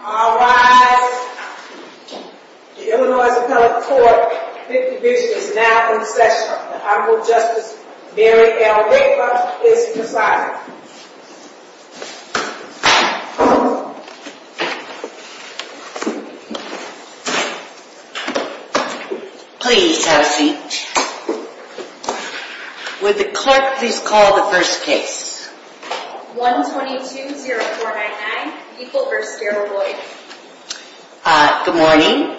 All rise. The Illinois Appellate Court Fifth Division is now in session. The Honorable Justice Mary L. Raper is presiding. Please have a seat. Would the clerk please call the first case. 1220499, Heeple v. Gariboy. Good morning.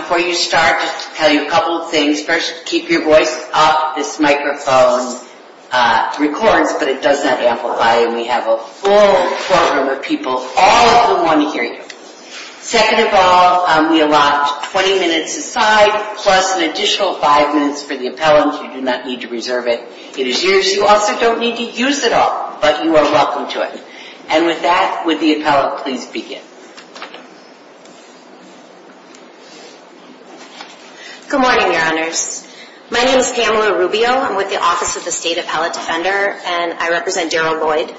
Before you start, just to tell you a couple of things. First, keep your voice up. This microphone records, but it does not amplify. And we have a full courtroom of people. All of them want to hear you. Second of all, we allot 20 minutes aside, plus an additional five minutes for the appellant. You do not need to reserve it. It is yours. You also don't need to use it all, but you are welcome to it. And with that, would the appellant please begin. Good morning, Your Honors. My name is Pamela Rubio. I'm with the Office of the State Appellate Defender, and I represent Daryl Lloyd.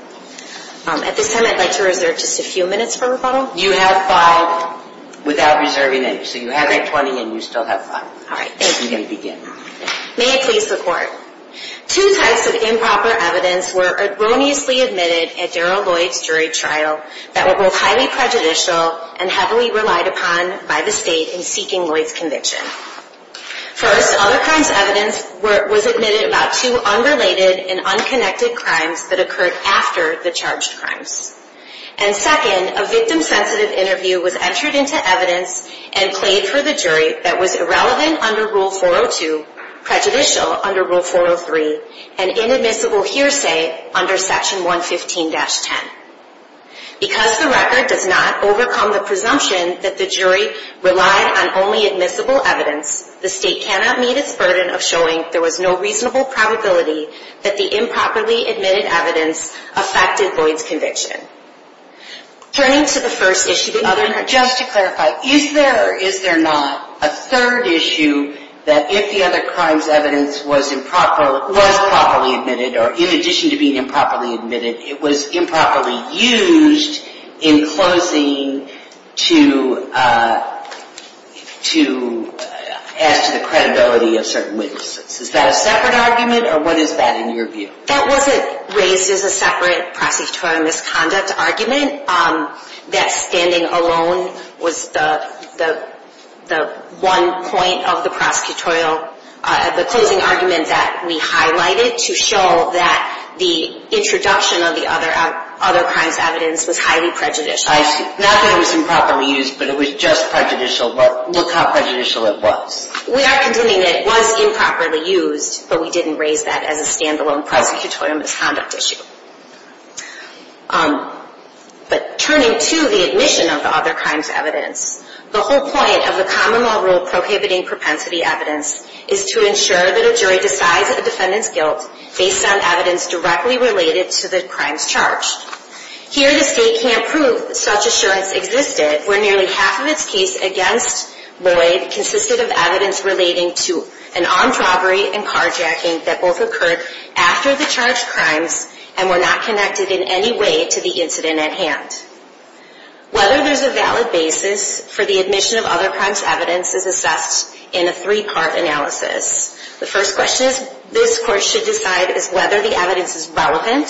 At this time, I'd like to reserve just a few minutes for rebuttal. You have five without reserving it. So you have that 20, and you still have five. All right, thank you. You may begin. May it please the Court. Two types of improper evidence were erroneously admitted at Daryl Lloyd's jury trial that were both highly prejudicial and heavily relied upon by the State in seeking Lloyd's conviction. First, other crimes' evidence was admitted about two unrelated and unconnected crimes that occurred after the charged crimes. And second, a victim-sensitive interview was entered into evidence and played for the jury that was irrelevant under Rule 402, prejudicial under Rule 403, and inadmissible hearsay under Section 115-10. Because the record does not overcome the presumption that the jury relied on only admissible evidence, the State cannot meet its burden of showing there was no reasonable probability that the improperly admitted evidence affected Lloyd's conviction. Turning to the first issue that you mentioned. Just to clarify, is there or is there not a third issue that if the other crime's evidence was improperly admitted, or in addition to being improperly admitted, it was improperly used in closing to add to the credibility of certain witnesses? Is that a separate argument, or what is that in your view? That wasn't raised as a separate prosecutorial misconduct argument. That standing alone was the one point of the prosecutorial, the closing argument that we highlighted to show that the introduction of the other crime's evidence was highly prejudicial. Not that it was improperly used, but it was just prejudicial, but look how prejudicial it was. We are contending that it was improperly used, but we didn't raise that as a standalone prosecutorial misconduct issue. But turning to the admission of the other crime's evidence, the whole point of the common law rule prohibiting propensity evidence is to ensure that a jury decides a defendant's guilt based on evidence directly related to the crime's charge. Here the State can't prove that such assurance existed where nearly half of its case against Lloyd consisted of evidence relating to an armed robbery and carjacking that both occurred after the charged crimes and were not connected in any way to the incident at hand. Whether there's a valid basis for the admission of other crime's evidence is assessed in a three-part analysis. The first question this Court should decide is whether the evidence is relevant.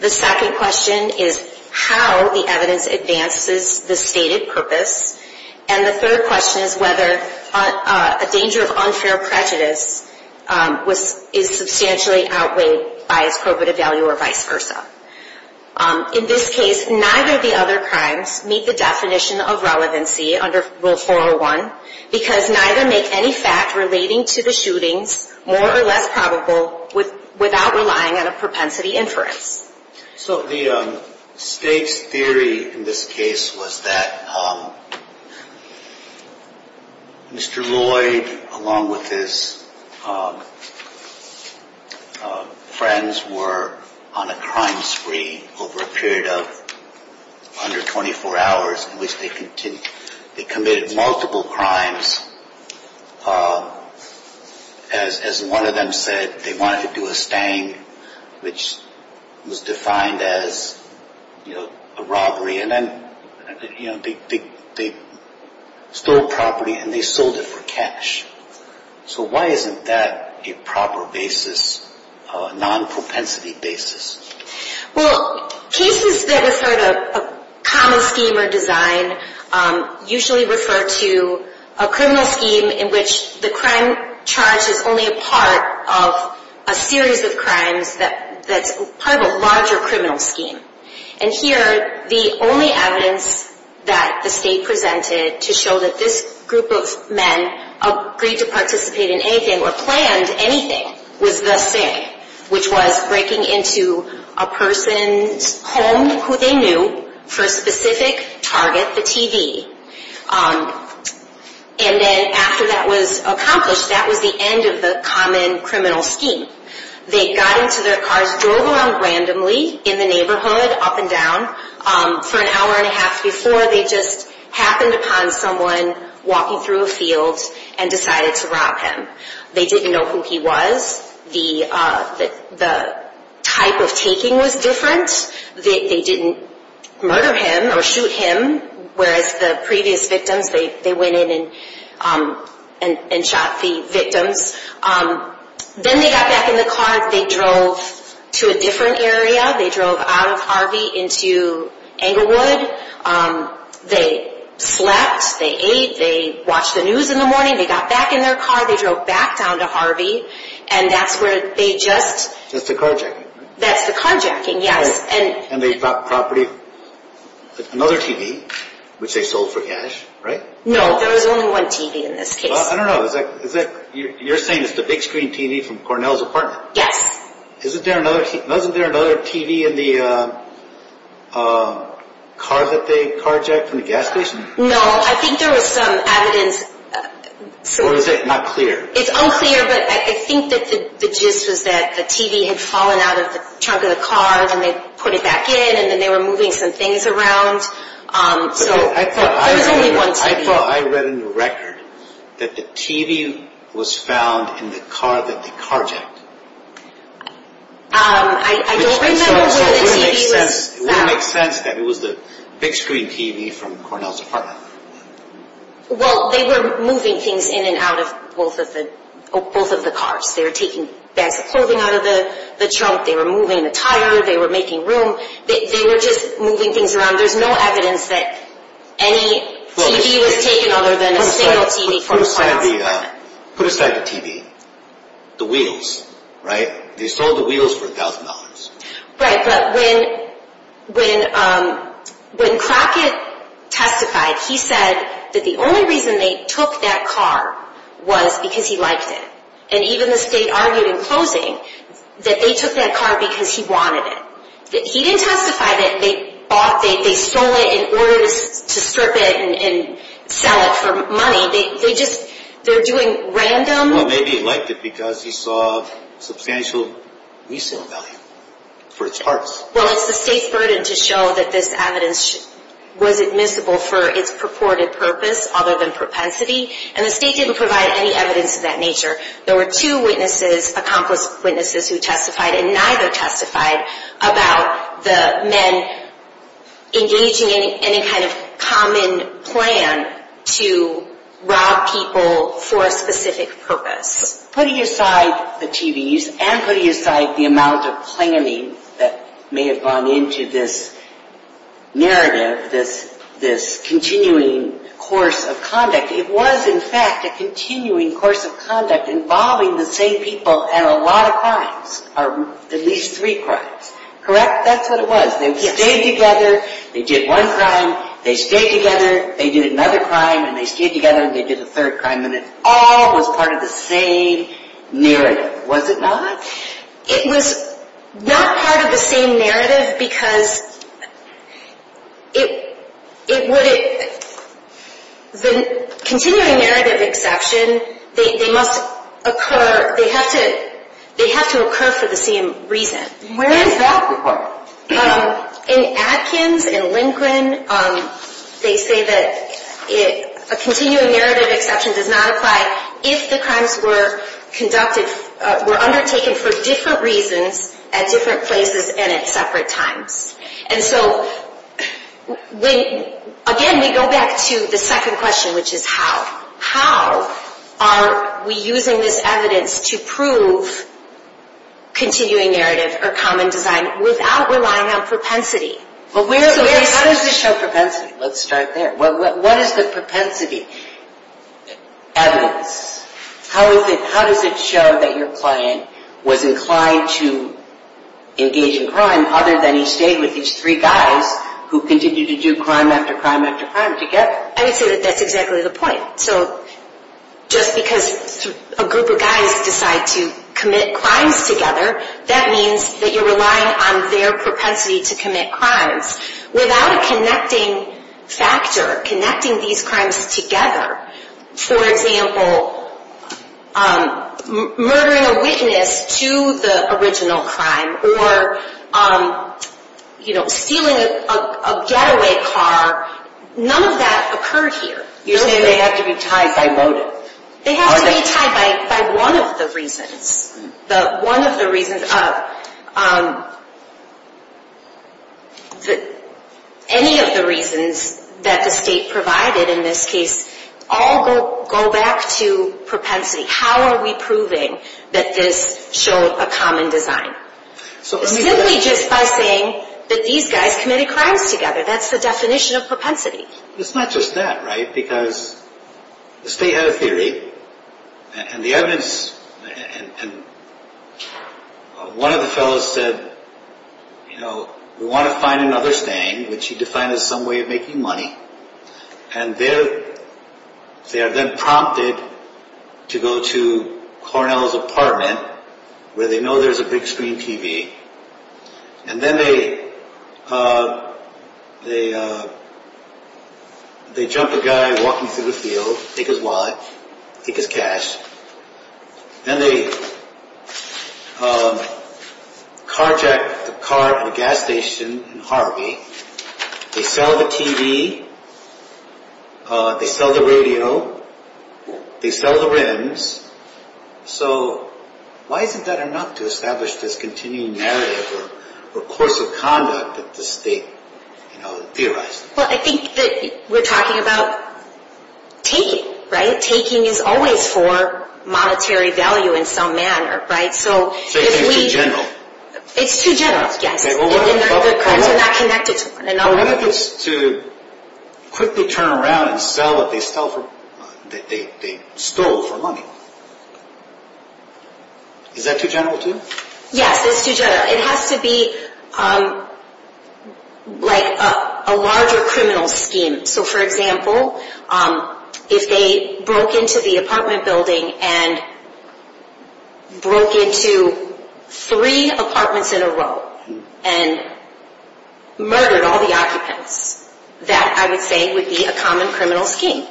The second question is how the evidence advances the stated purpose. And the third question is whether a danger of unfair prejudice is substantially outweighed by its probative value or vice versa. In this case, neither of the other crimes meet the definition of relevancy under Rule 401 because neither make any fact relating to the shootings more or less probable without relying on a propensity inference. So the State's theory in this case was that Mr. Lloyd along with his friends were on a crime spree over a period of under 24 hours in which they committed multiple crimes. As one of them said, they wanted to do a stang which was defined as a robbery and then they stole property and they sold it for cash. So why isn't that a proper basis, a non-propensity basis? Well, cases that refer to a common scheme or design usually refer to a criminal scheme in which the crime charge is only a part of a series of crimes that's part of a larger criminal scheme. And here, the only evidence that the State presented to show that this group of men agreed to participate in anything or planned anything was the sting, which was breaking into a person's home who they knew for a specific target, the TV. And then after that was accomplished, that was the end of the common criminal scheme. They got into their cars, drove around randomly in the neighborhood up and down for an hour and a half before they just happened upon someone walking through a field and decided to rob him. They didn't know who he was. The type of taking was different. They didn't murder him or shoot him, whereas the previous victims, they went in and shot the victims. Then they got back in the car. They drove to a different area. They drove out of Harvey into Englewood. They slept. They ate. They watched the news in the morning. They got back in their car. They drove back down to Harvey, and that's where they just... That's the carjacking, right? That's the carjacking, yes. And they bought property, another TV, which they sold for cash, right? No, there was only one TV in this case. I don't know. You're saying it's the big screen TV from Cornell's apartment? Yes. Wasn't there another TV in the car that they carjacked from the gas station? No. I think there was some evidence. Or is it not clear? It's unclear, but I think that the gist was that the TV had fallen out of the trunk of the car, and they put it back in, and then they were moving some things around. So there was only one TV. I read in the record that the TV was found in the car that they carjacked. I don't remember where the TV was found. It wouldn't make sense that it was the big screen TV from Cornell's apartment. Well, they were moving things in and out of both of the cars. They were taking bags of clothing out of the trunk. They were moving attire. They were making room. They were just moving things around. There's no evidence that any TV was taken other than a single TV from Cornell's apartment. Put aside the TV. The wheels, right? They sold the wheels for $1,000. Right, but when Crockett testified, he said that the only reason they took that car was because he liked it. And even the state argued in closing that they took that car because he wanted it. He didn't testify that they sold it in order to strip it and sell it for money. They're doing random. Well, maybe he liked it because he saw substantial reasonable value for its parts. Well, it's the state's burden to show that this evidence was admissible for its purported purpose other than propensity. And the state didn't provide any evidence of that nature. There were two witnesses, accomplice witnesses, who testified and neither testified about the men engaging in any kind of common plan to rob people for a specific purpose. Putting aside the TVs and putting aside the amount of planning that may have gone into this narrative, this continuing course of conduct, it was, in fact, a continuing course of conduct involving the same people and a lot of crimes, or at least three crimes, correct? That's what it was. They stayed together. They did one crime. They stayed together. They did another crime, and they stayed together, and they did a third crime, and it all was part of the same narrative, was it not? It was not part of the same narrative because it would, the continuing narrative exception, they must occur, they have to occur for the same reason. Where is that required? In Atkins, in Lincoln, they say that a continuing narrative exception does not apply if the crimes were conducted, were undertaken for different reasons at different places and at separate times. And so, again, we go back to the second question, which is how. How are we using this evidence to prove continuing narrative or common design without relying on propensity? How does this show propensity? Let's start there. What is the propensity evidence? How does it show that your client was inclined to engage in crime other than he stayed with these three guys who continued to do crime after crime after crime together? I would say that that's exactly the point. So just because a group of guys decide to commit crimes together, that means that you're relying on their propensity to commit crimes. Without a connecting factor, connecting these crimes together, for example, murdering a witness to the original crime or stealing a getaway car, none of that occurred here. You're saying they have to be tied by motive. They have to be tied by one of the reasons. Any of the reasons that the state provided in this case all go back to propensity. How are we proving that this showed a common design? Simply just by saying that these guys committed crimes together. That's the definition of propensity. It's not just that, right? Because the state had a theory, and the evidence, and one of the fellows said, you know, we want to find another staying, which he defined as some way of making money. And they are then prompted to go to Cornell's apartment where they know there's a big screen TV. And then they jump a guy walking through the field, take his wallet, take his cash. Then they carjack the car at a gas station in Harvey. They sell the TV. They sell the radio. They sell the rims. So why isn't that enough to establish this continuing narrative or course of conduct that the state, you know, theorized? Well, I think that we're talking about taking, right? Taking is always for monetary value in some manner, right? So if we... Taking is too general. It's too general, yes. And the crimes are not connected to one another. Or what if it's to quickly turn around and sell what they stole for money? Is that too general to you? Yes, it's too general. It has to be like a larger criminal scheme. So, for example, if they broke into the apartment building and broke into three apartments in a row and murdered all the occupants, that, I would say, would be a common criminal scheme.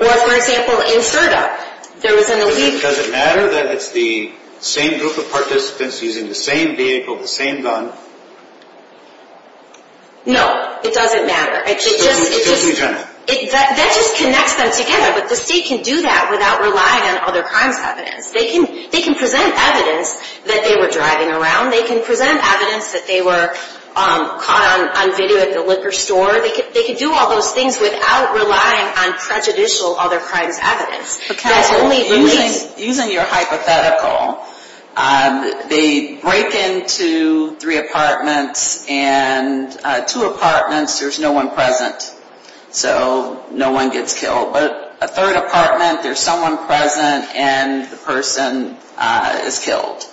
Or, for example, in Serta, there was an illegal... Does it matter that it's the same group of participants using the same vehicle, the same gun? No, it doesn't matter. It just... It doesn't matter. That just connects them together, but the state can do that without relying on other crimes evidence. They can present evidence that they were driving around. They can present evidence that they were caught on video at the liquor store. They can do all those things without relying on prejudicial other crimes evidence. Using your hypothetical, they break into three apartments and two apartments, there's no one present, so no one gets killed. But a third apartment, there's someone present and the person is killed.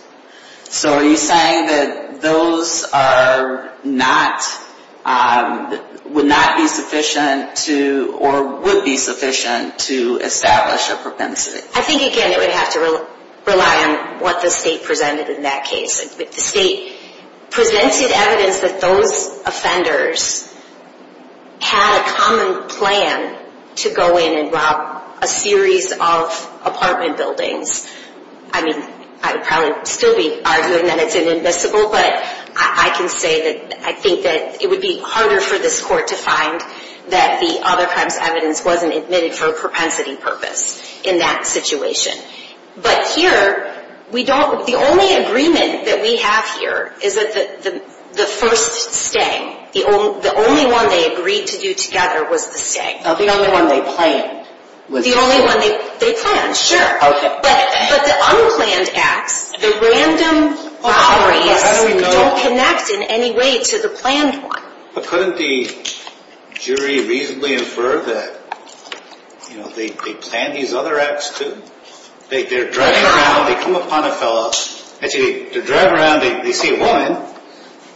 So, are you saying that those are not, would not be sufficient to, or would be sufficient to establish a propensity? I think, again, it would have to rely on what the state presented in that case. If the state presented evidence that those offenders had a common plan to go in and rob a series of apartment buildings, I mean, I would probably still be arguing that it's inadmissible, but I can say that I think that it would be harder for this court to find that the other crimes evidence wasn't admitted for a propensity purpose in that situation. But here, we don't, the only agreement that we have here is that the first stay, the only one they agreed to do together was the stay. Oh, the only one they planned? The only one they planned, sure. Okay. But the unplanned acts, the random robberies don't connect in any way to the planned one. But couldn't the jury reasonably infer that, you know, they planned these other acts, too? They're driving around, they come upon a fellow, actually, they're driving around, they see a woman,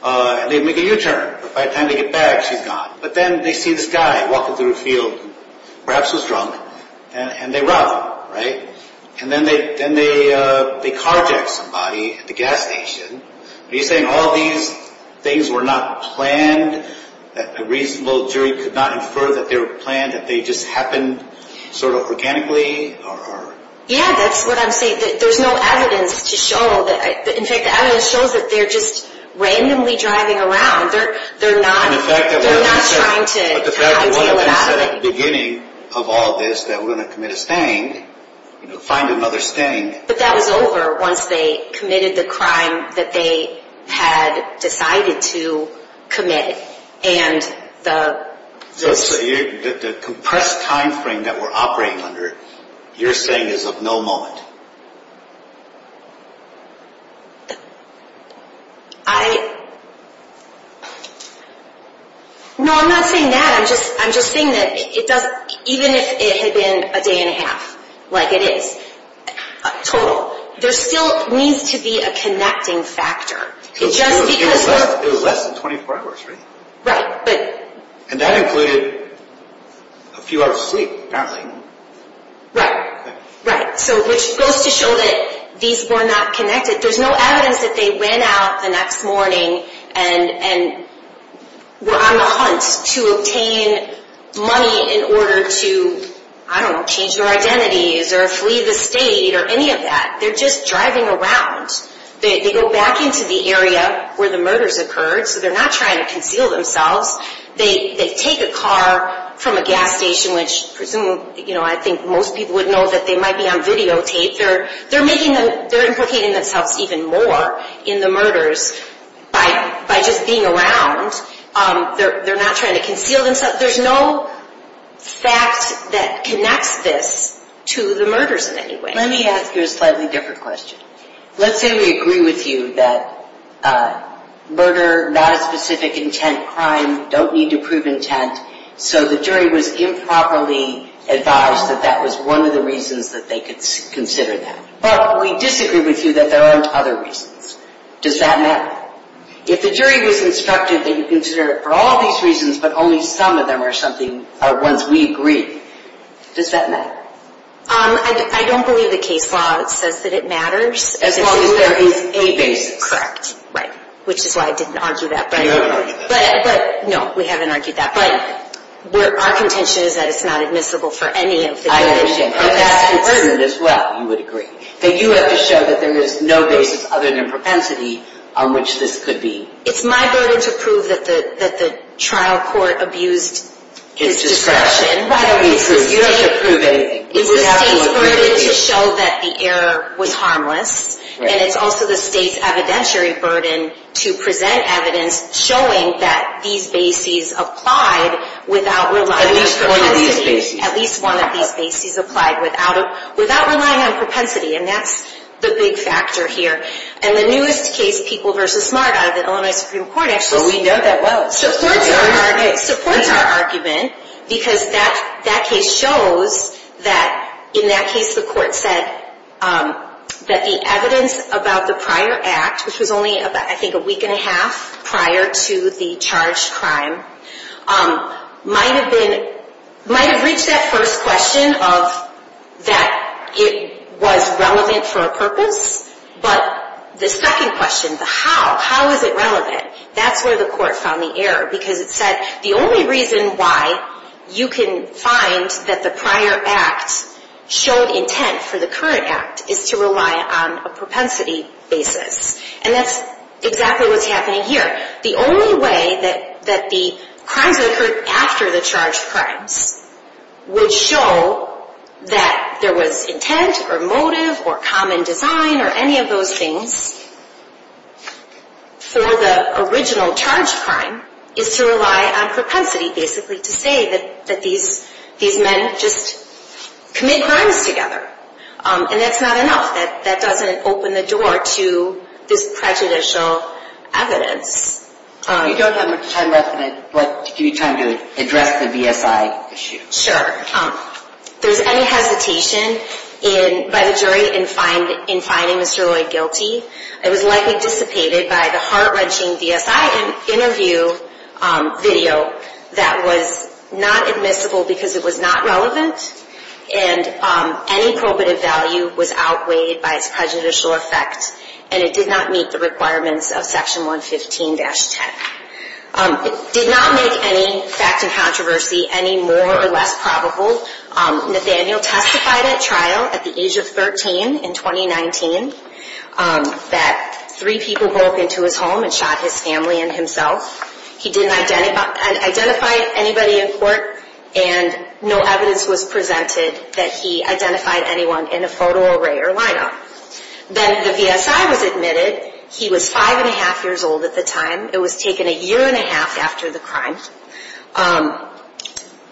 and they make a U-turn. By the time they get back, she's gone. But then they see this guy walking through a field, perhaps he was drunk, and they rob him, right? And then they carjack somebody at the gas station. Are you saying all these things were not planned, that a reasonable jury could not infer that they were planned, that they just happened sort of organically? Yeah, that's what I'm saying. There's no evidence to show that, in fact, the evidence shows that they're just randomly driving around. And the fact that one of them said at the beginning of all this that we're going to commit a sting, you know, find another sting. But that was over once they committed the crime that they had decided to commit. So the compressed time frame that we're operating under, you're saying is of no moment? No, I'm not saying that. I'm just saying that even if it had been a day and a half, like it is, total, there still needs to be a connecting factor. It was less than 24 hours, right? Right. And that included a few hours of sleep, apparently. Right, right. So which goes to show that these were not connected. There's no evidence that they went out the next morning and were on the hunt to obtain money in order to, I don't know, change their identities or flee the state or any of that. They're just driving around. They go back into the area where the murders occurred, so they're not trying to conceal themselves. They take a car from a gas station, which presumably, you know, I think most people would know that they might be on videotape. They're implicating themselves even more in the murders by just being around. They're not trying to conceal themselves. There's no fact that connects this to the murders in any way. Let me ask you a slightly different question. Let's say we agree with you that murder, not a specific intent crime, don't need to prove intent, so the jury was improperly advised that that was one of the reasons that they could consider that. But we disagree with you that there aren't other reasons. Does that matter? If the jury was instructed that you consider it for all these reasons but only some of them are something, are ones we agree, does that matter? I don't believe the case law says that it matters. As long as there is a basis. Correct. Right, which is why I didn't argue that. You haven't argued that. No, we haven't argued that. But our contention is that it's not admissible for any of the cases. I understand. But that's important as well, you would agree, that you have to show that there is no basis other than propensity on which this could be. It's my burden to prove that the trial court abused its discretion. You don't have to prove anything. It's the state's burden to show that the error was harmless. And it's also the state's evidentiary burden to present evidence showing that these bases applied without relying on propensity. At least one of these bases. At least one of these bases applied without relying on propensity, and that's the big factor here. And the newest case, People v. Smart, out of the Illinois Supreme Court, actually supports our argument because that case shows that in that case the court said that the evidence about the prior act, which was only I think a week and a half prior to the charged crime, might have reached that first question of that it was relevant for a purpose. But the second question, the how, how is it relevant, that's where the court found the error because it said the only reason why you can find that the prior act showed intent for the current act is to rely on a propensity basis. And that's exactly what's happening here. The only way that the crimes that occurred after the charged crimes would show that there was intent or motive or common design or any of those things for the original charged crime is to rely on propensity, basically to say that these men just commit crimes together. And that's not enough. That doesn't open the door to this prejudicial evidence. You don't have much time left, but give you time to address the VSI issue. Sure. If there's any hesitation by the jury in finding Mr. Lloyd guilty, it was likely dissipated by the heart-wrenching VSI interview video that was not admissible because it was not relevant and any probative value was outweighed by its prejudicial effect and it did not meet the requirements of Section 115-10. It did not make any fact and controversy any more or less probable. Nathaniel testified at trial at the age of 13 in 2019 that three people broke into his home and shot his family and himself. He didn't identify anybody in court and no evidence was presented that he identified anyone in a photo array or lineup. Then the VSI was admitted. He was five and a half years old at the time. It was taken a year and a half after the crime.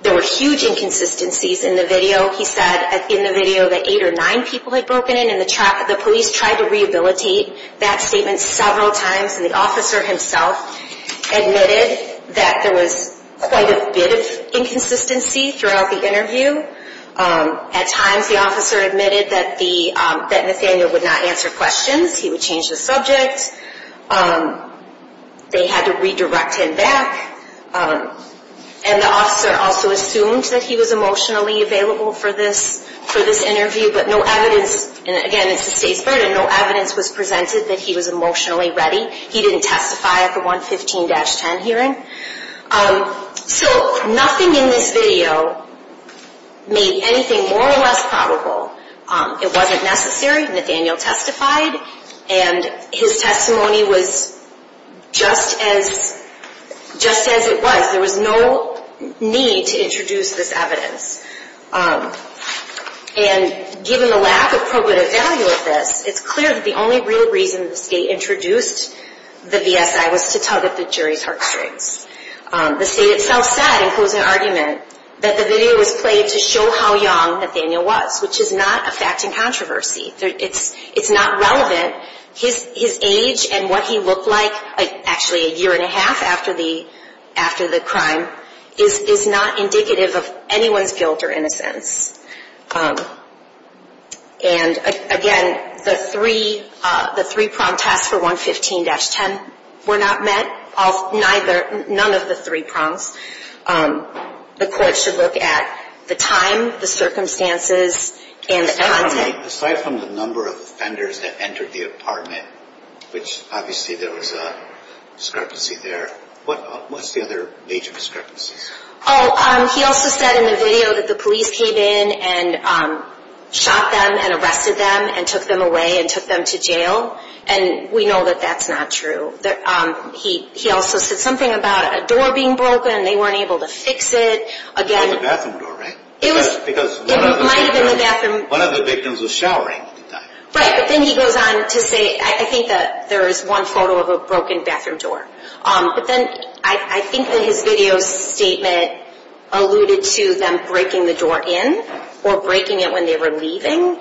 There were huge inconsistencies in the video. He said in the video that eight or nine people had broken in and the police tried to rehabilitate that statement several times and the officer himself admitted that there was quite a bit of inconsistency throughout the interview. At times the officer admitted that Nathaniel would not answer questions. He would change the subject. They had to redirect him back and the officer also assumed that he was emotionally available for this interview but no evidence, and again it's the state's burden, no evidence was presented that he was emotionally ready. He didn't testify at the 115-10 hearing. So nothing in this video made anything more or less probable. It wasn't necessary. Nathaniel testified and his testimony was just as it was. There was no need to introduce this evidence. And given the lack of probative value of this, it's clear that the only real reason the state introduced the VSI was to tug at the jury's heartstrings. The state itself said in closing argument that the video was played to show how young Nathaniel was which is not a fact in controversy. It's not relevant. His age and what he looked like actually a year and a half after the crime is not indicative of anyone's guilt or innocence. And again, the three prompt tests for 115-10 were not met. None of the three prompts. The court should look at the time, the circumstances, and the content. Aside from the number of offenders that entered the apartment, which obviously there was a discrepancy there, what's the other major discrepancies? He also said in the video that the police came in and shot them and arrested them and took them away and took them to jail. And we know that that's not true. He also said something about a door being broken and they weren't able to fix it. It was a bathroom door, right? It might have been the bathroom. One of the victims was showering at the time. Right, but then he goes on to say, I think that there is one photo of a broken bathroom door. But then I think that his video statement alluded to them breaking the door in or breaking it when they were leaving.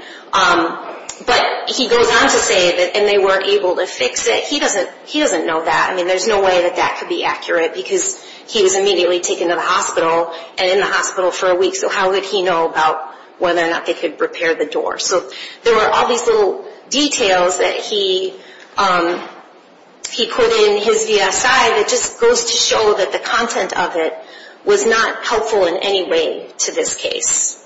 But he goes on to say that they weren't able to fix it. He doesn't know that. I mean, there's no way that that could be accurate because he was immediately taken to the hospital and in the hospital for a week. So how would he know about whether or not they could repair the door? So there were all these little details that he put in his VSI that just goes to show that the content of it was not helpful in any way to this case.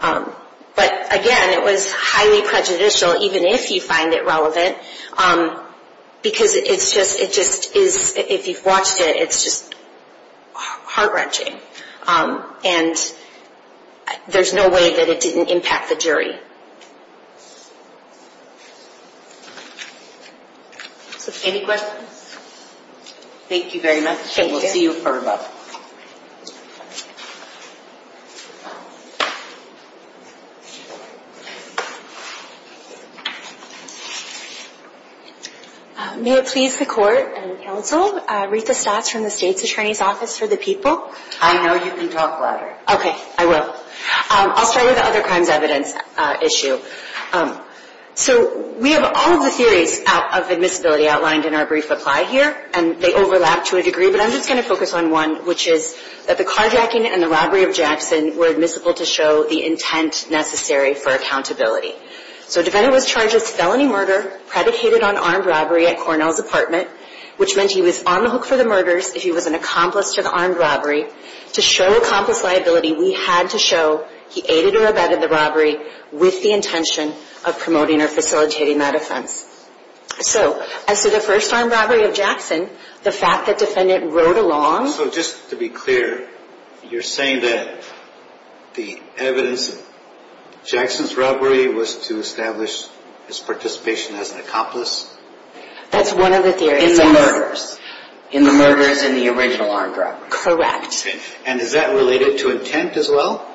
But again, it was highly prejudicial, even if you find it relevant. Because it just is, if you've watched it, it's just heart-wrenching. And there's no way that it didn't impact the jury. Any questions? Thank you very much. Thank you. And we'll see you for a moment. May it please the Court and counsel, Rita Stotz from the State's Attorney's Office for the People. I know you can talk louder. Okay, I will. I'll start with the other crimes evidence issue. So we have all of the theories of admissibility outlined in our brief reply here, and they overlap to a degree. But I'm just going to focus on one, which is that the carjacking and the robbery of Jackson were admissible to show the intent necessary for accountability. So a defendant was charged with felony murder, predicated on armed robbery at Cornell's apartment, which meant he was on the hook for the murders if he was an accomplice to the armed robbery. To show accomplice liability, we had to show he aided or abetted the robbery with the intention of promoting or facilitating that offense. So as to the first armed robbery of Jackson, the fact that defendant rode along. So just to be clear, you're saying that the evidence of Jackson's robbery was to establish his participation as an accomplice? That's one of the theories. In the murders. In the murders in the original armed robbery. Correct. And is that related to intent as well?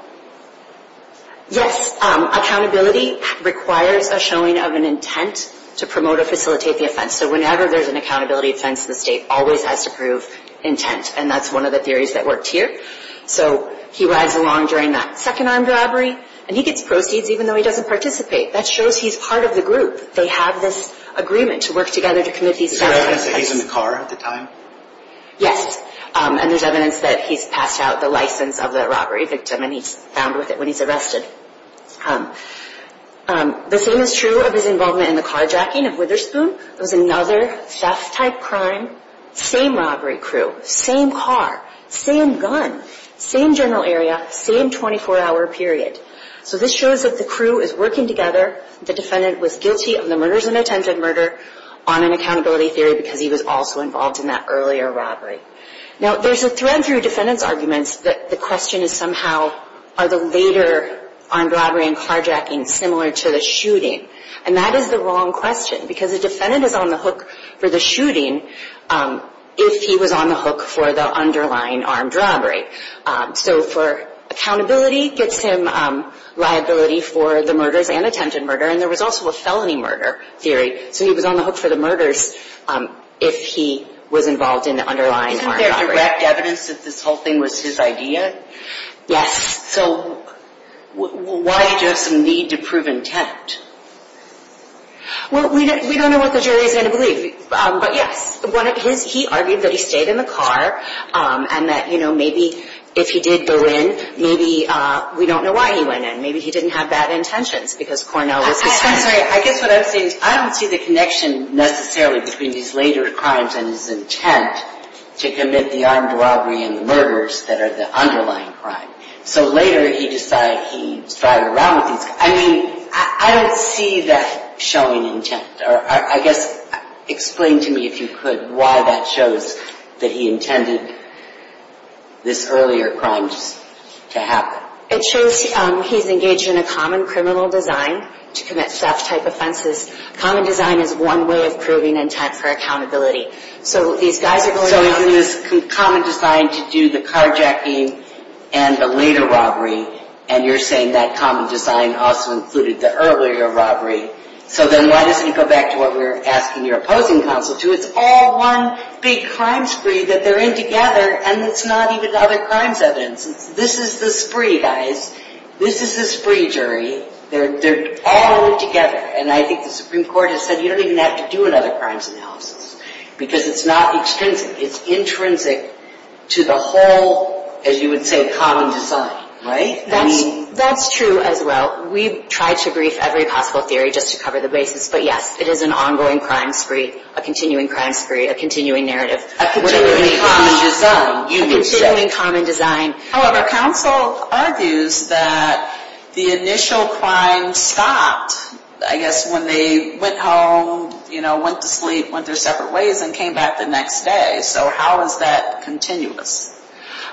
Yes. Accountability requires a showing of an intent to promote or facilitate the offense. So whenever there's an accountability offense, the State always has to prove intent, and that's one of the theories that worked here. So he rides along during that second armed robbery, and he gets proceeds even though he doesn't participate. That shows he's part of the group. They have this agreement to work together to commit these acts. Is there evidence that he's in the car at the time? Yes. And there's evidence that he's passed out the license of the robbery victim, and he's found with it when he's arrested. The same is true of his involvement in the carjacking of Witherspoon. It was another theft-type crime. Same robbery crew. Same car. Same gun. Same general area. Same 24-hour period. So this shows that the crew is working together. The defendant was guilty of the murders and attempted murder on an accountability theory because he was also involved in that earlier robbery. Now, there's a thread through defendant's arguments that the question is somehow, are the later armed robbery and carjacking similar to the shooting? And that is the wrong question because the defendant is on the hook for the shooting if he was on the hook for the underlying armed robbery. So for accountability gets him liability for the murders and attempted murder, and there was also a felony murder theory, so he was on the hook for the murders if he was involved in the underlying armed robbery. Isn't there direct evidence that this whole thing was his idea? Yes. So why did you have some need to prove intent? Well, we don't know what the jury is going to believe, but yes. He argued that he stayed in the car and that, you know, maybe if he did go in, maybe we don't know why he went in. Maybe he didn't have bad intentions because Cornell was his friend. I'm sorry. I guess what I'm saying is I don't see the connection necessarily between these later crimes and his intent to commit the armed robbery and the murders that are the underlying crime. So later he decided he was driving around with these. I mean, I don't see that showing intent. I guess explain to me, if you could, why that shows that he intended this earlier crime just to happen. It shows he's engaged in a common criminal design to commit theft-type offenses. Common design is one way of proving intent for accountability. So these guys are going out. So is this common design to do the carjacking and the later robbery, and you're saying that common design also included the earlier robbery. So then why doesn't he go back to what we were asking your opposing counsel to? It's all one big crime spree that they're in together, and it's not even other crimes evidence. This is the spree, guys. This is the spree, jury. They're all in it together. And I think the Supreme Court has said you don't even have to do another crimes analysis because it's not extrinsic. It's intrinsic to the whole, as you would say, common design, right? That's true as well. We've tried to brief every possible theory just to cover the basis. But, yes, it is an ongoing crime spree, a continuing crime spree, a continuing narrative. A continuing common design. A continuing common design. However, counsel argues that the initial crime stopped, I guess, when they went home, you know, went to sleep, went their separate ways, and came back the next day. So how is that continuous?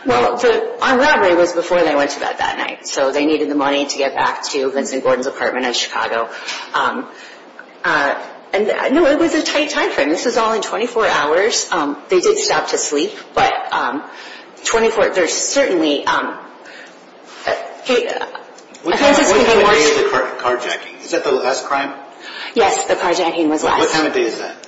Well, the robbery was before they went to bed that night. So they needed the money to get back to Vincent Gordon's apartment in Chicago. And, no, it was a tight time frame. This was all in 24 hours. They did stop to sleep. But 24 – there's certainly – What day is the carjacking? Is that the last crime? Yes, the carjacking was last. What time of day is that?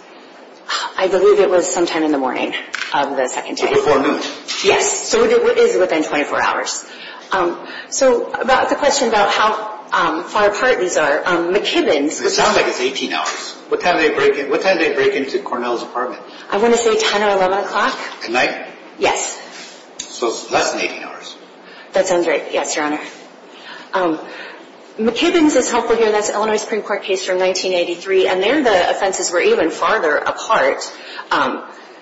I believe it was sometime in the morning of the second day. Before noon? Yes. So it is within 24 hours. So about the question about how far apart these are, McKibbin's – It sounds like it's 18 hours. What time did they break into Cornell's apartment? I want to say 10 or 11 o'clock. At night? Yes. So it's less than 18 hours. That sounds right. Yes, Your Honor. McKibbin's is helpful here. That's an Illinois Supreme Court case from 1983. And there the offenses were even farther apart.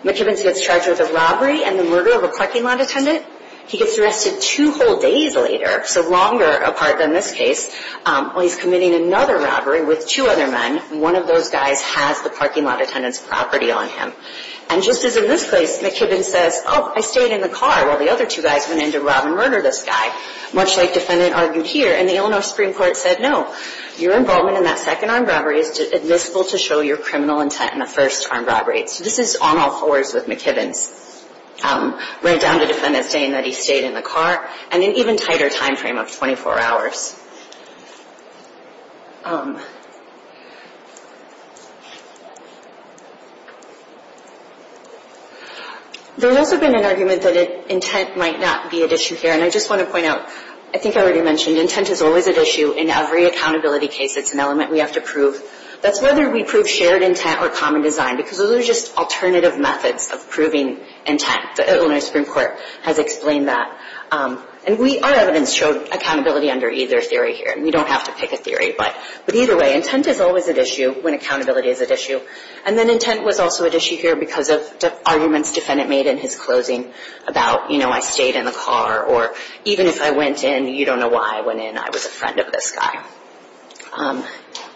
McKibbin's gets charged with a robbery and the murder of a parking lot attendant. He gets arrested two whole days later, so longer apart than this case. While he's committing another robbery with two other men, one of those guys has the parking lot attendant's property on him. And just as in this case, McKibbin says, Oh, I stayed in the car while the other two guys went in to rob and murder this guy. Much like defendant argued here. And the Illinois Supreme Court said, No. Your involvement in that second armed robbery is admissible to show your criminal intent in the first armed robbery. So this is on all fours with McKibbin's. Right down to defendant's saying that he stayed in the car. And an even tighter time frame of 24 hours. There's also been an argument that intent might not be at issue here. And I just want to point out, I think I already mentioned intent is always at issue in every accountability case. It's an element we have to prove. That's whether we prove shared intent or common design. Because those are just alternative methods of proving intent. The Illinois Supreme Court has explained that. And our evidence showed accountability under either theory here. And you don't have to pick a theory. But either way, intent is always at issue when accountability is at issue. And then intent was also at issue here because of arguments defendant made in his closing. About, you know, I stayed in the car. Or even if I went in, you don't know why I went in. I was a friend of this guy.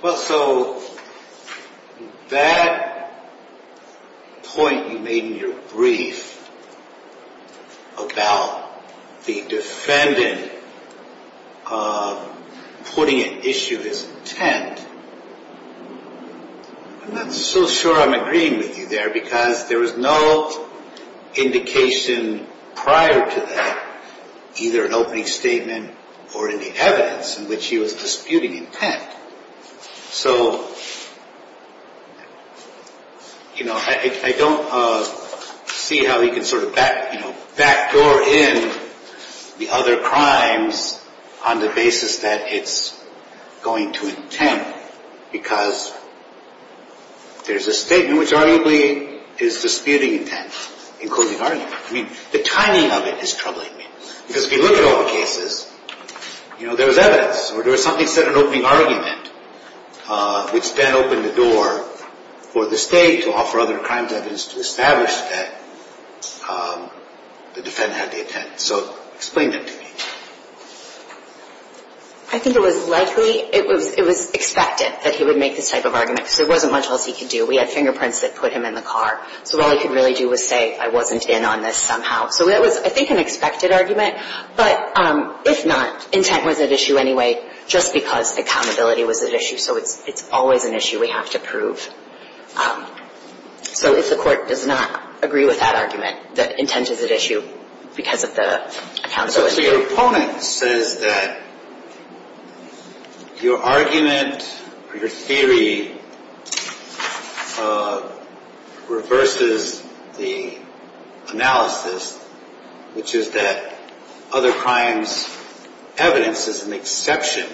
Well, so that point you made in your brief about the defendant putting at issue his intent, I'm not so sure I'm agreeing with you there. Because there was no indication prior to that, either an opening statement or any evidence in which he was disputing intent. So, you know, I don't see how he can sort of backdoor in the other crimes on the basis that it's going to intent. Because there's a statement which arguably is disputing intent in closing argument. I mean, the timing of it is troubling me. Because if you look at all the cases, you know, there was evidence. Or there was something that said an opening argument, which then opened the door for the state to offer other crimes evidence to establish that the defendant had the intent. So explain that to me. I think it was likely, it was expected that he would make this type of argument. Because there wasn't much else he could do. We had fingerprints that put him in the car. So all he could really do was say, I wasn't in on this somehow. So that was, I think, an expected argument. But if not, intent was at issue anyway, just because accountability was at issue. So it's always an issue we have to prove. So if the Court does not agree with that argument, that intent is at issue because of the accountability. So your opponent says that your argument or your theory reverses the analysis, which is that other crimes evidence is an exception.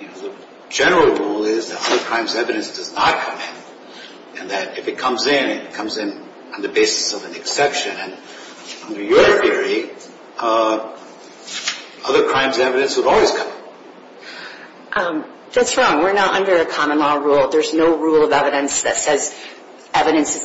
You know, the general rule is that other crimes evidence does not come in. And that if it comes in, it comes in on the basis of an exception. And under your theory, other crimes evidence would always come in. That's wrong. We're not under a common law rule. There's no rule of evidence that says evidence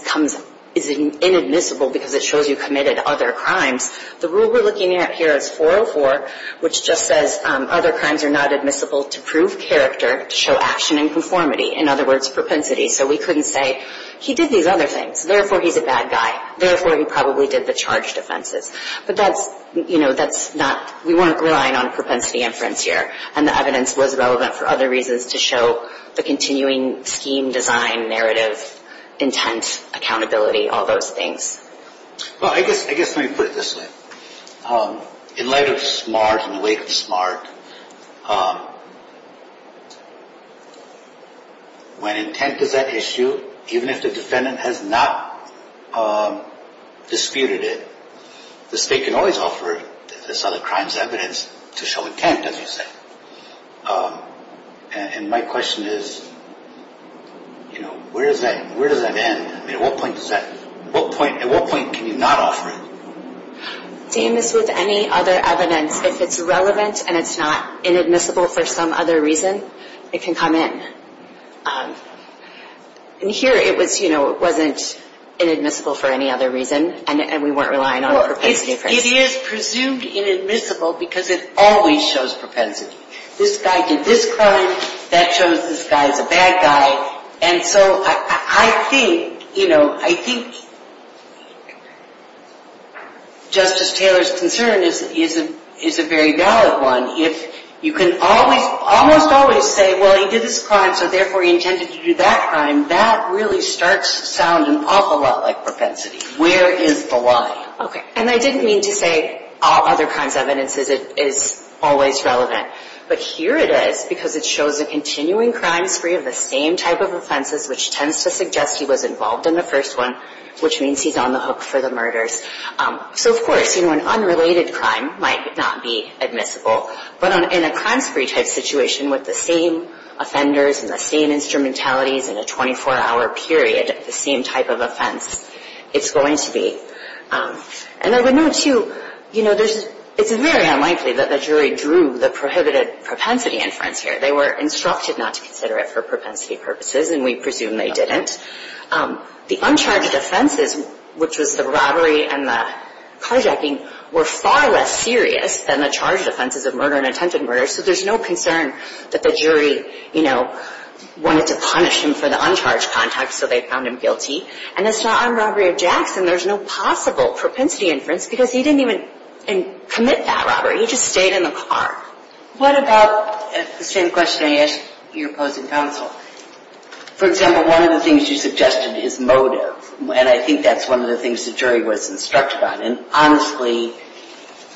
is inadmissible because it shows you committed other crimes. The rule we're looking at here is 404, which just says other crimes are not admissible to prove character to show action and conformity. In other words, propensity. So we couldn't say, he did these other things. Therefore, he's a bad guy. Therefore, he probably did the charged offenses. But that's, you know, that's not, we weren't relying on propensity inference here. And the evidence was relevant for other reasons to show the continuing scheme, design, narrative, intent, accountability, all those things. Well, I guess let me put it this way. In light of SMART, in the wake of SMART, when intent is at issue, even if the defendant has not disputed it, the state can always offer this other crimes evidence to show intent, as you said. And my question is, you know, where does that end? At what point does that, at what point can you not offer it? Same as with any other evidence. If it's relevant and it's not inadmissible for some other reason, it can come in. And here it was, you know, it wasn't inadmissible for any other reason. And we weren't relying on propensity inference. It is presumed inadmissible because it always shows propensity. This guy did this crime. That shows this guy's a bad guy. And so I think, you know, I think Justice Taylor's concern is a very valid one. If you can almost always say, well, he did this crime, so therefore he intended to do that crime, that really starts sounding an awful lot like propensity. Where is the lie? Okay. And I didn't mean to say other crimes evidence is always relevant. But here it is because it shows a continuing crime spree of the same type of offenses, which tends to suggest he was involved in the first one, which means he's on the hook for the murders. So, of course, you know, an unrelated crime might not be admissible. But in a crime spree type situation with the same offenders and the same instrumentalities and a 24-hour period, the same type of offense, it's going to be. And I would note, too, you know, it's very unlikely that the jury drew the prohibited propensity inference here. They were instructed not to consider it for propensity purposes, and we presume they didn't. The uncharged offenses, which was the robbery and the carjacking, were far less serious than the charged offenses of murder and attempted murder. So there's no concern that the jury, you know, wanted to punish him for the uncharged contact, so they found him guilty. And that's not on robbery or jacks, and there's no possible propensity inference because he didn't even commit that robbery. He just stayed in the car. What about the same question I asked your opposing counsel? For example, one of the things you suggested is motive, and I think that's one of the things the jury was instructed on. And honestly,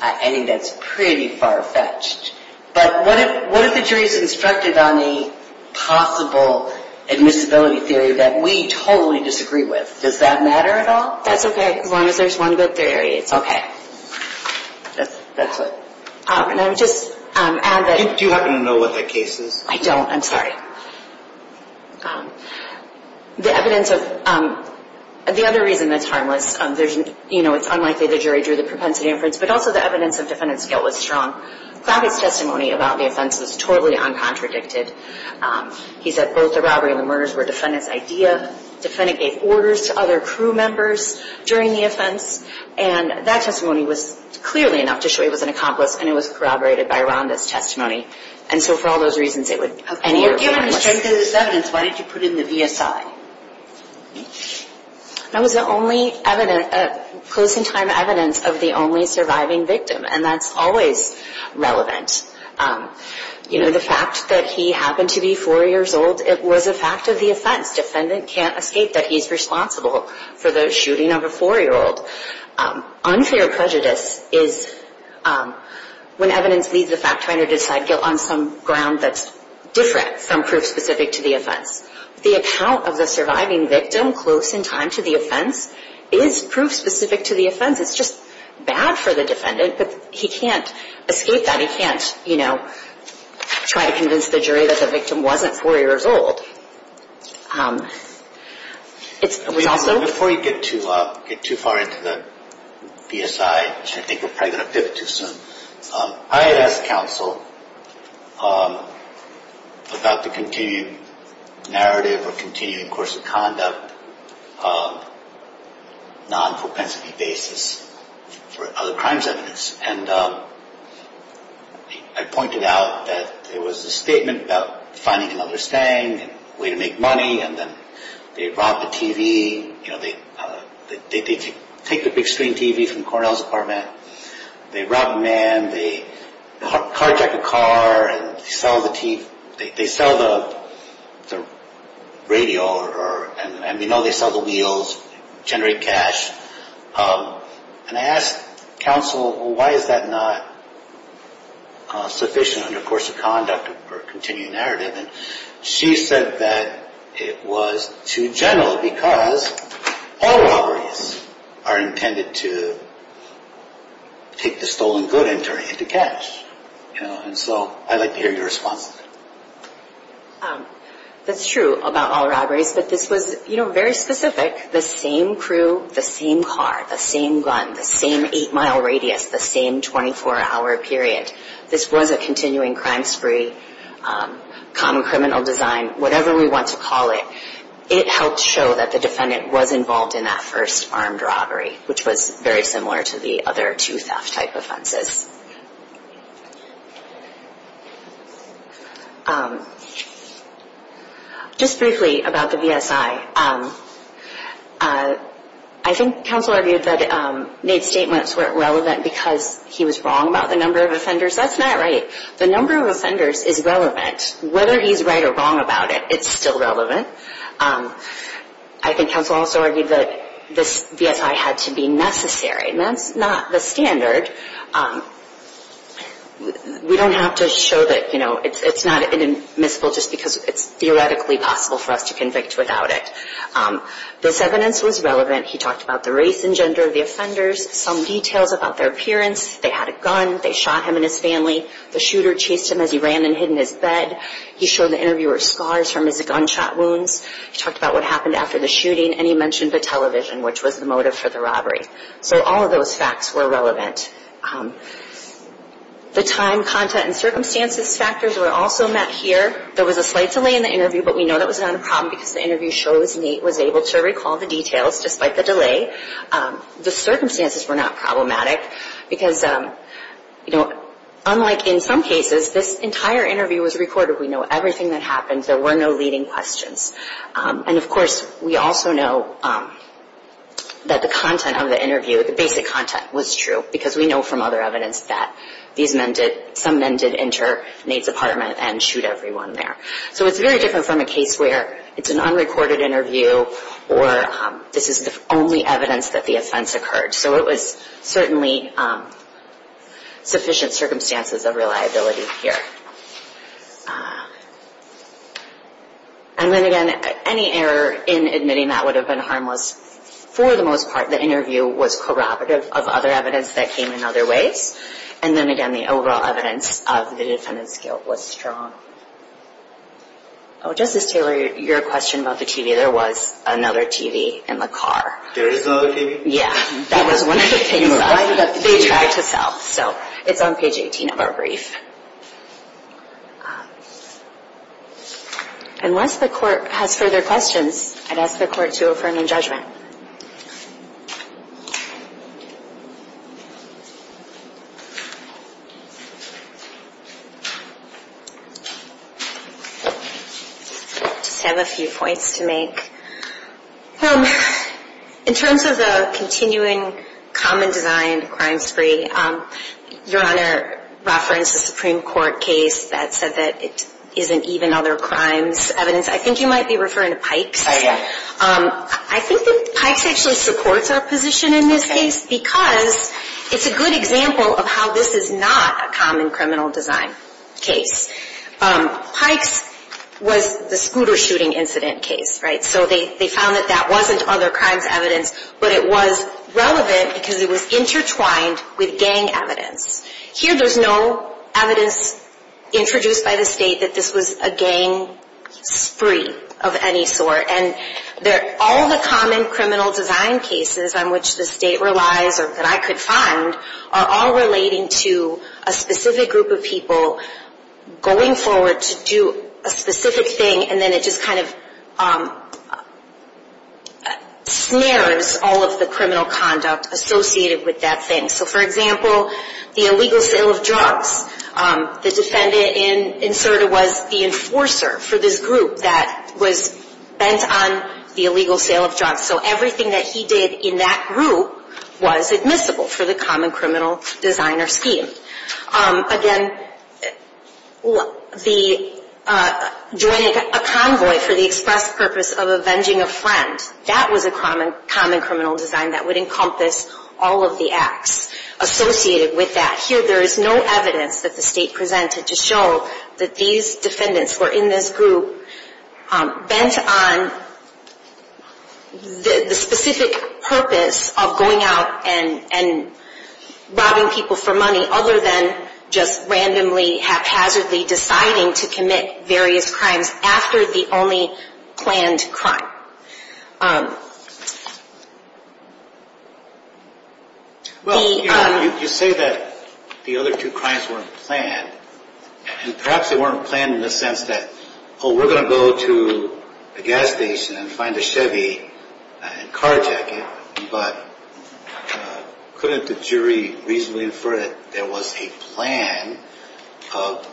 I think that's pretty far-fetched. But what if the jury is instructed on a possible admissibility theory that we totally disagree with? Does that matter at all? That's okay. As long as there's one good theory, it's okay. That's it. And I would just add that – Do you happen to know what that case is? I don't. I'm sorry. The evidence of – the other reason that's harmless, you know, it's unlikely the jury drew the propensity inference, but also the evidence of defendant's guilt was strong. Clavitt's testimony about the offense was totally uncontradicted. He said both the robbery and the murders were defendant's idea. The defendant gave orders to other crew members during the offense, and that testimony was clearly enough to show he was an accomplice, and it was corroborated by Rhonda's testimony. And so for all those reasons, it would – If you were given the strength of this evidence, why did you put it in the VSI? That was the only evidence – closing time evidence of the only surviving victim, and that's always relevant. You know, the fact that he happened to be 4 years old, it was a fact of the offense. Defendant can't escape that he's responsible for the shooting of a 4-year-old. Unfair prejudice is when evidence leads the fact finder to decide guilt on some ground that's different from proof specific to the offense. The account of the surviving victim close in time to the offense is proof specific to the offense. It's just bad for the defendant, but he can't escape that. He can't, you know, try to convince the jury that the victim wasn't 4 years old. Before you get too far into the VSI, which I think we're probably going to pivot to soon, I had asked counsel about the continuing narrative or continuing course of conduct non-propensity basis for other crimes evidence. And I pointed out that there was a statement about finding another stang and a way to make money, and then they robbed a TV. You know, they take the big screen TV from Cornell's apartment. They rob a man, they carjack a car, and they sell the radio, and we know they sell the wheels, generate cash. And I asked counsel, why is that not sufficient under course of conduct or continuing narrative? And she said that it was too general because all robberies are intended to take the stolen good and turn it into cash. And so I'd like to hear your response. That's true about all robberies, but this was, you know, very specific. The same crew, the same car, the same gun, the same 8-mile radius, the same 24-hour period. This was a continuing crime spree, common criminal design, whatever we want to call it. It helped show that the defendant was involved in that first armed robbery, which was very similar to the other two theft-type offenses. Just briefly about the VSI. I think counsel argued that NAIDS statements weren't relevant because he was wrong about the number of offenders. That's not right. The number of offenders is relevant. Whether he's right or wrong about it, it's still relevant. I think counsel also argued that this VSI had to be necessary. And that's not the standard. We don't have to show that, you know, it's not inadmissible just because it's theoretically possible for us to convict without it. This evidence was relevant. He talked about the race and gender of the offenders, some details about their appearance. They had a gun. They shot him and his family. The shooter chased him as he ran and hid in his bed. He showed the interviewer scars from his gunshot wounds. He talked about what happened after the shooting, and he mentioned the television, which was the motive for the robbery. So all of those facts were relevant. The time, content, and circumstances factors were also met here. There was a slight delay in the interview, but we know that was not a problem because the interview shows Nate was able to recall the details despite the delay. The circumstances were not problematic because, you know, unlike in some cases, this entire interview was recorded. We know everything that happened. There were no leading questions. And, of course, we also know that the content of the interview, the basic content, was true because we know from other evidence that some men did enter Nate's apartment and shoot everyone there. So it's very different from a case where it's an unrecorded interview or this is the only evidence that the offense occurred. So it was certainly sufficient circumstances of reliability here. And then, again, any error in admitting that would have been harmless for the most part. The interview was corroborative of other evidence that came in other ways. And then, again, the overall evidence of the defendant's guilt was strong. Oh, Justice Taylor, your question about the TV, there was another TV in the car. There is another TV? Yeah, that was one of the things they tried to sell. So it's on page 18 of our brief. Unless the court has further questions, I'd ask the court to affirm in judgment. I just have a few points to make. In terms of the continuing common design crime spree, Your Honor referenced a Supreme Court case that said that it isn't even other crimes evidence. I think you might be referring to pipes. I am. I think that pipes actually supports our position in this case because it's a good example of how this is not a common criminal design case. Pipes was the scooter shooting incident case, right? So they found that that wasn't other crimes evidence, but it was relevant because it was intertwined with gang evidence. Here there's no evidence introduced by the state that this was a gang spree of any sort. All the common criminal design cases on which the state relies or that I could find are all relating to a specific group of people going forward to do a specific thing and then it just kind of snares all of the criminal conduct associated with that thing. So, for example, the illegal sale of drugs. The defendant in CERDA was the enforcer for this group that was bent on the illegal sale of drugs. So everything that he did in that group was admissible for the common criminal designer scheme. Again, joining a convoy for the express purpose of avenging a friend, that was a common criminal design that would encompass all of the acts associated with that. Here there is no evidence that the state presented to show that these defendants were in this group bent on the specific purpose of going out and robbing people for money other than just randomly, haphazardly deciding to commit various crimes after the only planned crime. Well, you say that the other two crimes weren't planned and perhaps they weren't planned in the sense that, oh, we're going to go to a gas station and find a Chevy and a car jacket, but couldn't the jury reasonably infer that there was a plan of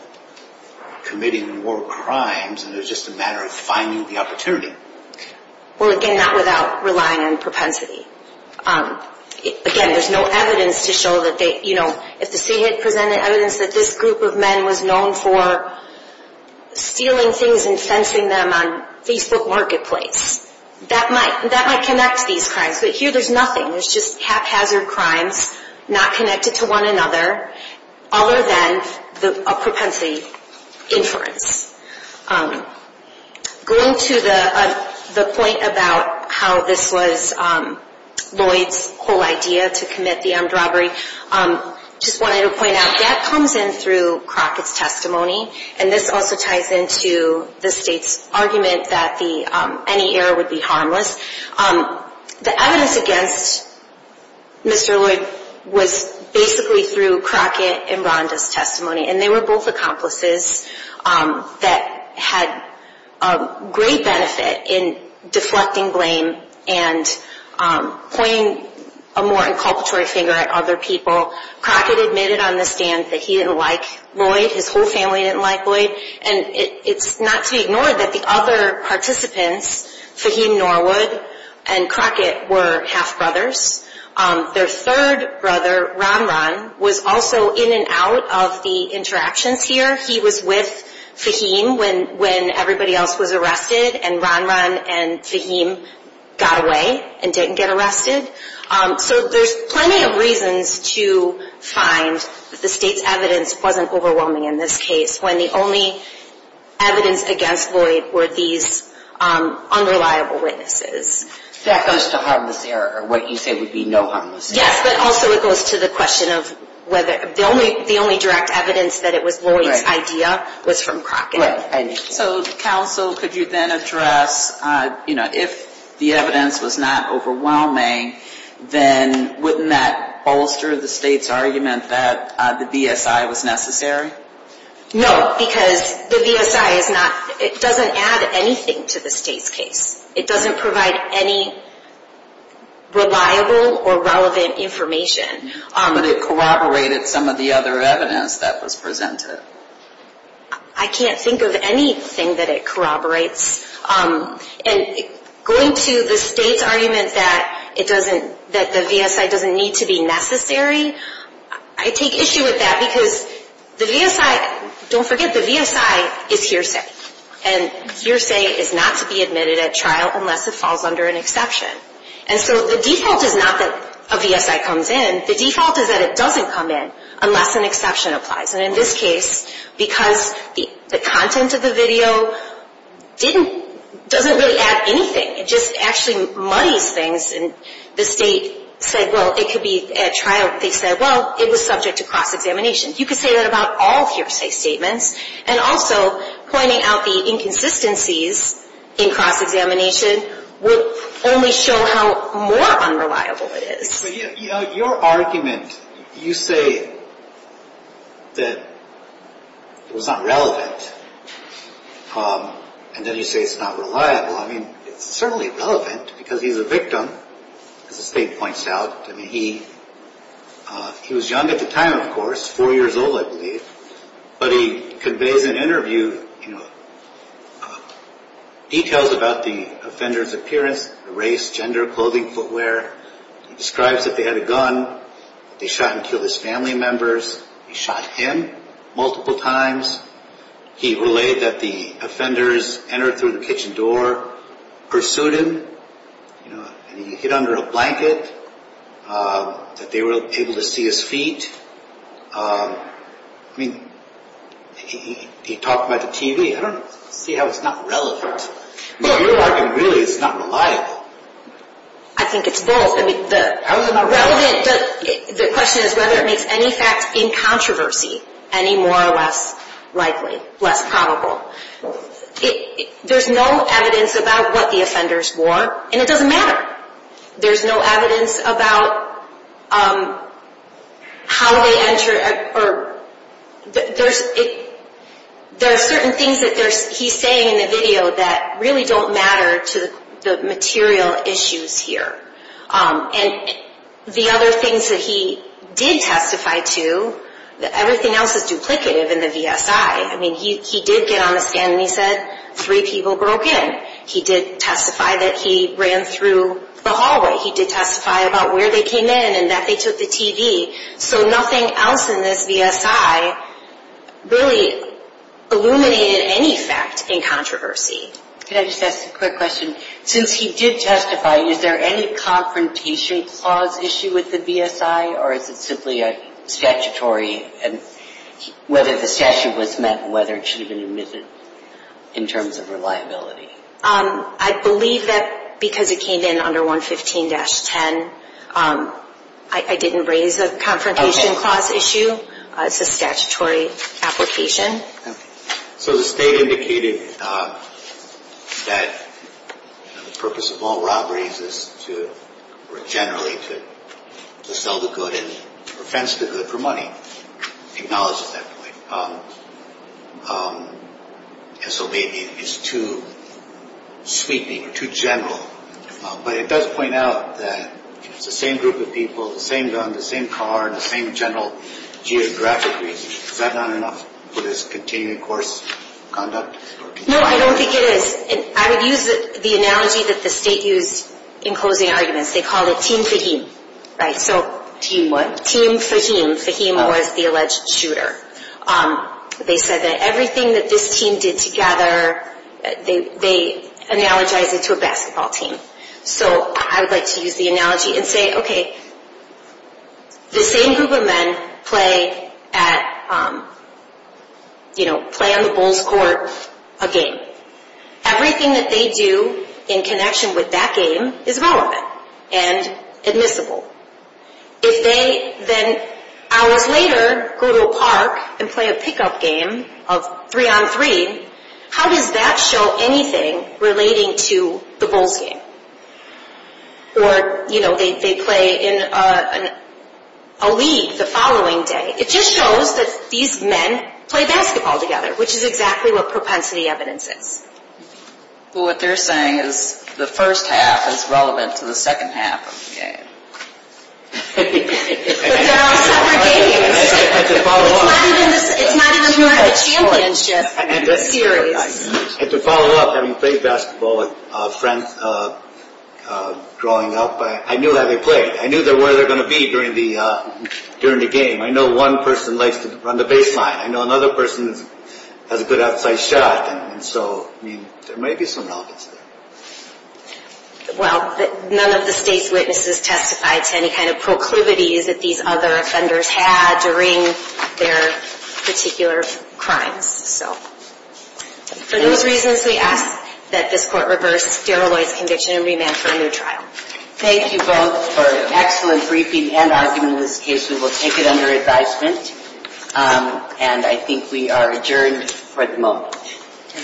committing more crimes and it was just a matter of finding the opportunity? Well, again, not without relying on propensity. Again, there's no evidence to show that they, you know, if the state had presented evidence that this group of men was known for stealing things and fencing them on Facebook Marketplace, that might connect these crimes. But here there's nothing. There's just haphazard crimes not connected to one another other than a propensity inference. Going to the point about how this was Lloyd's whole idea to commit the armed robbery, just wanted to point out that comes in through Crockett's testimony and this also ties into the state's argument that any error would be harmless. The evidence against Mr. Lloyd was basically through Crockett and Rhonda's testimony and they were both accomplices that had great benefit in deflecting blame and pointing a more inculpatory finger at other people. Crockett admitted on the stand that he didn't like Lloyd. His whole family didn't like Lloyd. And it's not to be ignored that the other participants, Fahim Norwood and Crockett, were half-brothers. Their third brother, Ron Ron, was also in and out of the interactions here. He was with Fahim when everybody else was arrested and Ron Ron and Fahim got away and didn't get arrested. So there's plenty of reasons to find that the state's evidence wasn't overwhelming in this case when the only evidence against Lloyd were these unreliable witnesses. That goes to harmless error or what you say would be no harmless error. Yes, but also it goes to the question of whether the only direct evidence that it was Lloyd's idea was from Crockett. Right. So, counsel, could you then address, you know, if the evidence was not overwhelming, then wouldn't that bolster the state's argument that the VSI was necessary? No, because the VSI is not, it doesn't add anything to the state's case. It doesn't provide any reliable or relevant information. But it corroborated some of the other evidence that was presented. I can't think of anything that it corroborates. And going to the state's argument that the VSI doesn't need to be necessary, I take issue with that because the VSI, don't forget, the VSI is hearsay. And hearsay is not to be admitted at trial unless it falls under an exception. And so the default is not that a VSI comes in. The default is that it doesn't come in unless an exception applies. And in this case, because the content of the video didn't, doesn't really add anything. It just actually muddies things and the state said, well, it could be at trial. They said, well, it was subject to cross-examination. You could say that about all hearsay statements. And also pointing out the inconsistencies in cross-examination will only show how more unreliable it is. But your argument, you say that it was not relevant. And then you say it's not reliable. I mean, it's certainly relevant because he's a victim, as the state points out. I mean, he was young at the time, of course, four years old, I believe. But he conveys in an interview, you know, details about the offender's appearance, race, gender, clothing, footwear. He describes that they had a gun. They shot and killed his family members. They shot him multiple times. He relayed that the offenders entered through the kitchen door, pursued him. You know, and he hid under a blanket, that they were able to see his feet. I mean, he talked about the TV. I don't see how it's not relevant. Your argument really is it's not reliable. I think it's both. How is it not relevant? The question is whether it makes any facts in controversy any more or less likely, less probable. There's no evidence about what the offenders wore, and it doesn't matter. There's no evidence about how they entered. There are certain things that he's saying in the video that really don't matter to the material issues here. And the other things that he did testify to, everything else is duplicative in the VSI. I mean, he did get on the stand and he said three people broke in. He did testify that he ran through the hallway. He did testify about where they came in and that they took the TV. So nothing else in this VSI really illuminated any fact in controversy. Can I just ask a quick question? Since he did testify, is there any confrontation clause issue with the VSI, or is it simply a statutory and whether the statute was met and whether it should have been admitted in terms of reliability? I believe that because it came in under 115-10, I didn't raise a confrontation clause issue. It's a statutory application. So the state indicated that the purpose of all robberies is to generally to sell the good and offense the good for money. It acknowledges that point. And so maybe it's too sweeping, too general. But it does point out that it's the same group of people, the same gun, the same car, and the same general geographic reason. Is that not enough for this continuing course conduct? No, I don't think it is. I would use the analogy that the state used in closing arguments. They called it team Fahim. Team what? Team Fahim. Fahim was the alleged shooter. They said that everything that this team did together, they analogized it to a basketball team. So I would like to use the analogy and say, okay, the same group of men play on the Bulls court a game. Everything that they do in connection with that game is relevant and admissible. If they then hours later go to a park and play a pickup game of three-on-three, how does that show anything relating to the Bulls game? Or, you know, they play in a league the following day. It just shows that these men play basketball together, which is exactly what propensity evidence is. Well, what they're saying is the first half is relevant to the second half of the game. But they're all separate games. It's not even part of the championship series. And to follow up, having played basketball with friends growing up, I knew how they played. I knew where they were going to be during the game. I know one person likes to run the baseline. I know another person has a good outside shot. And so, I mean, there may be some relevance there. Well, none of the state's witnesses testified to any kind of proclivities that these other offenders had during their particular crimes. So for those reasons, we ask that this court reverse Daryl Lloyd's conviction and remand for a new trial. Thank you both for an excellent briefing and argument in this case. We will take it under advisement. And I think we are adjourned for the moment.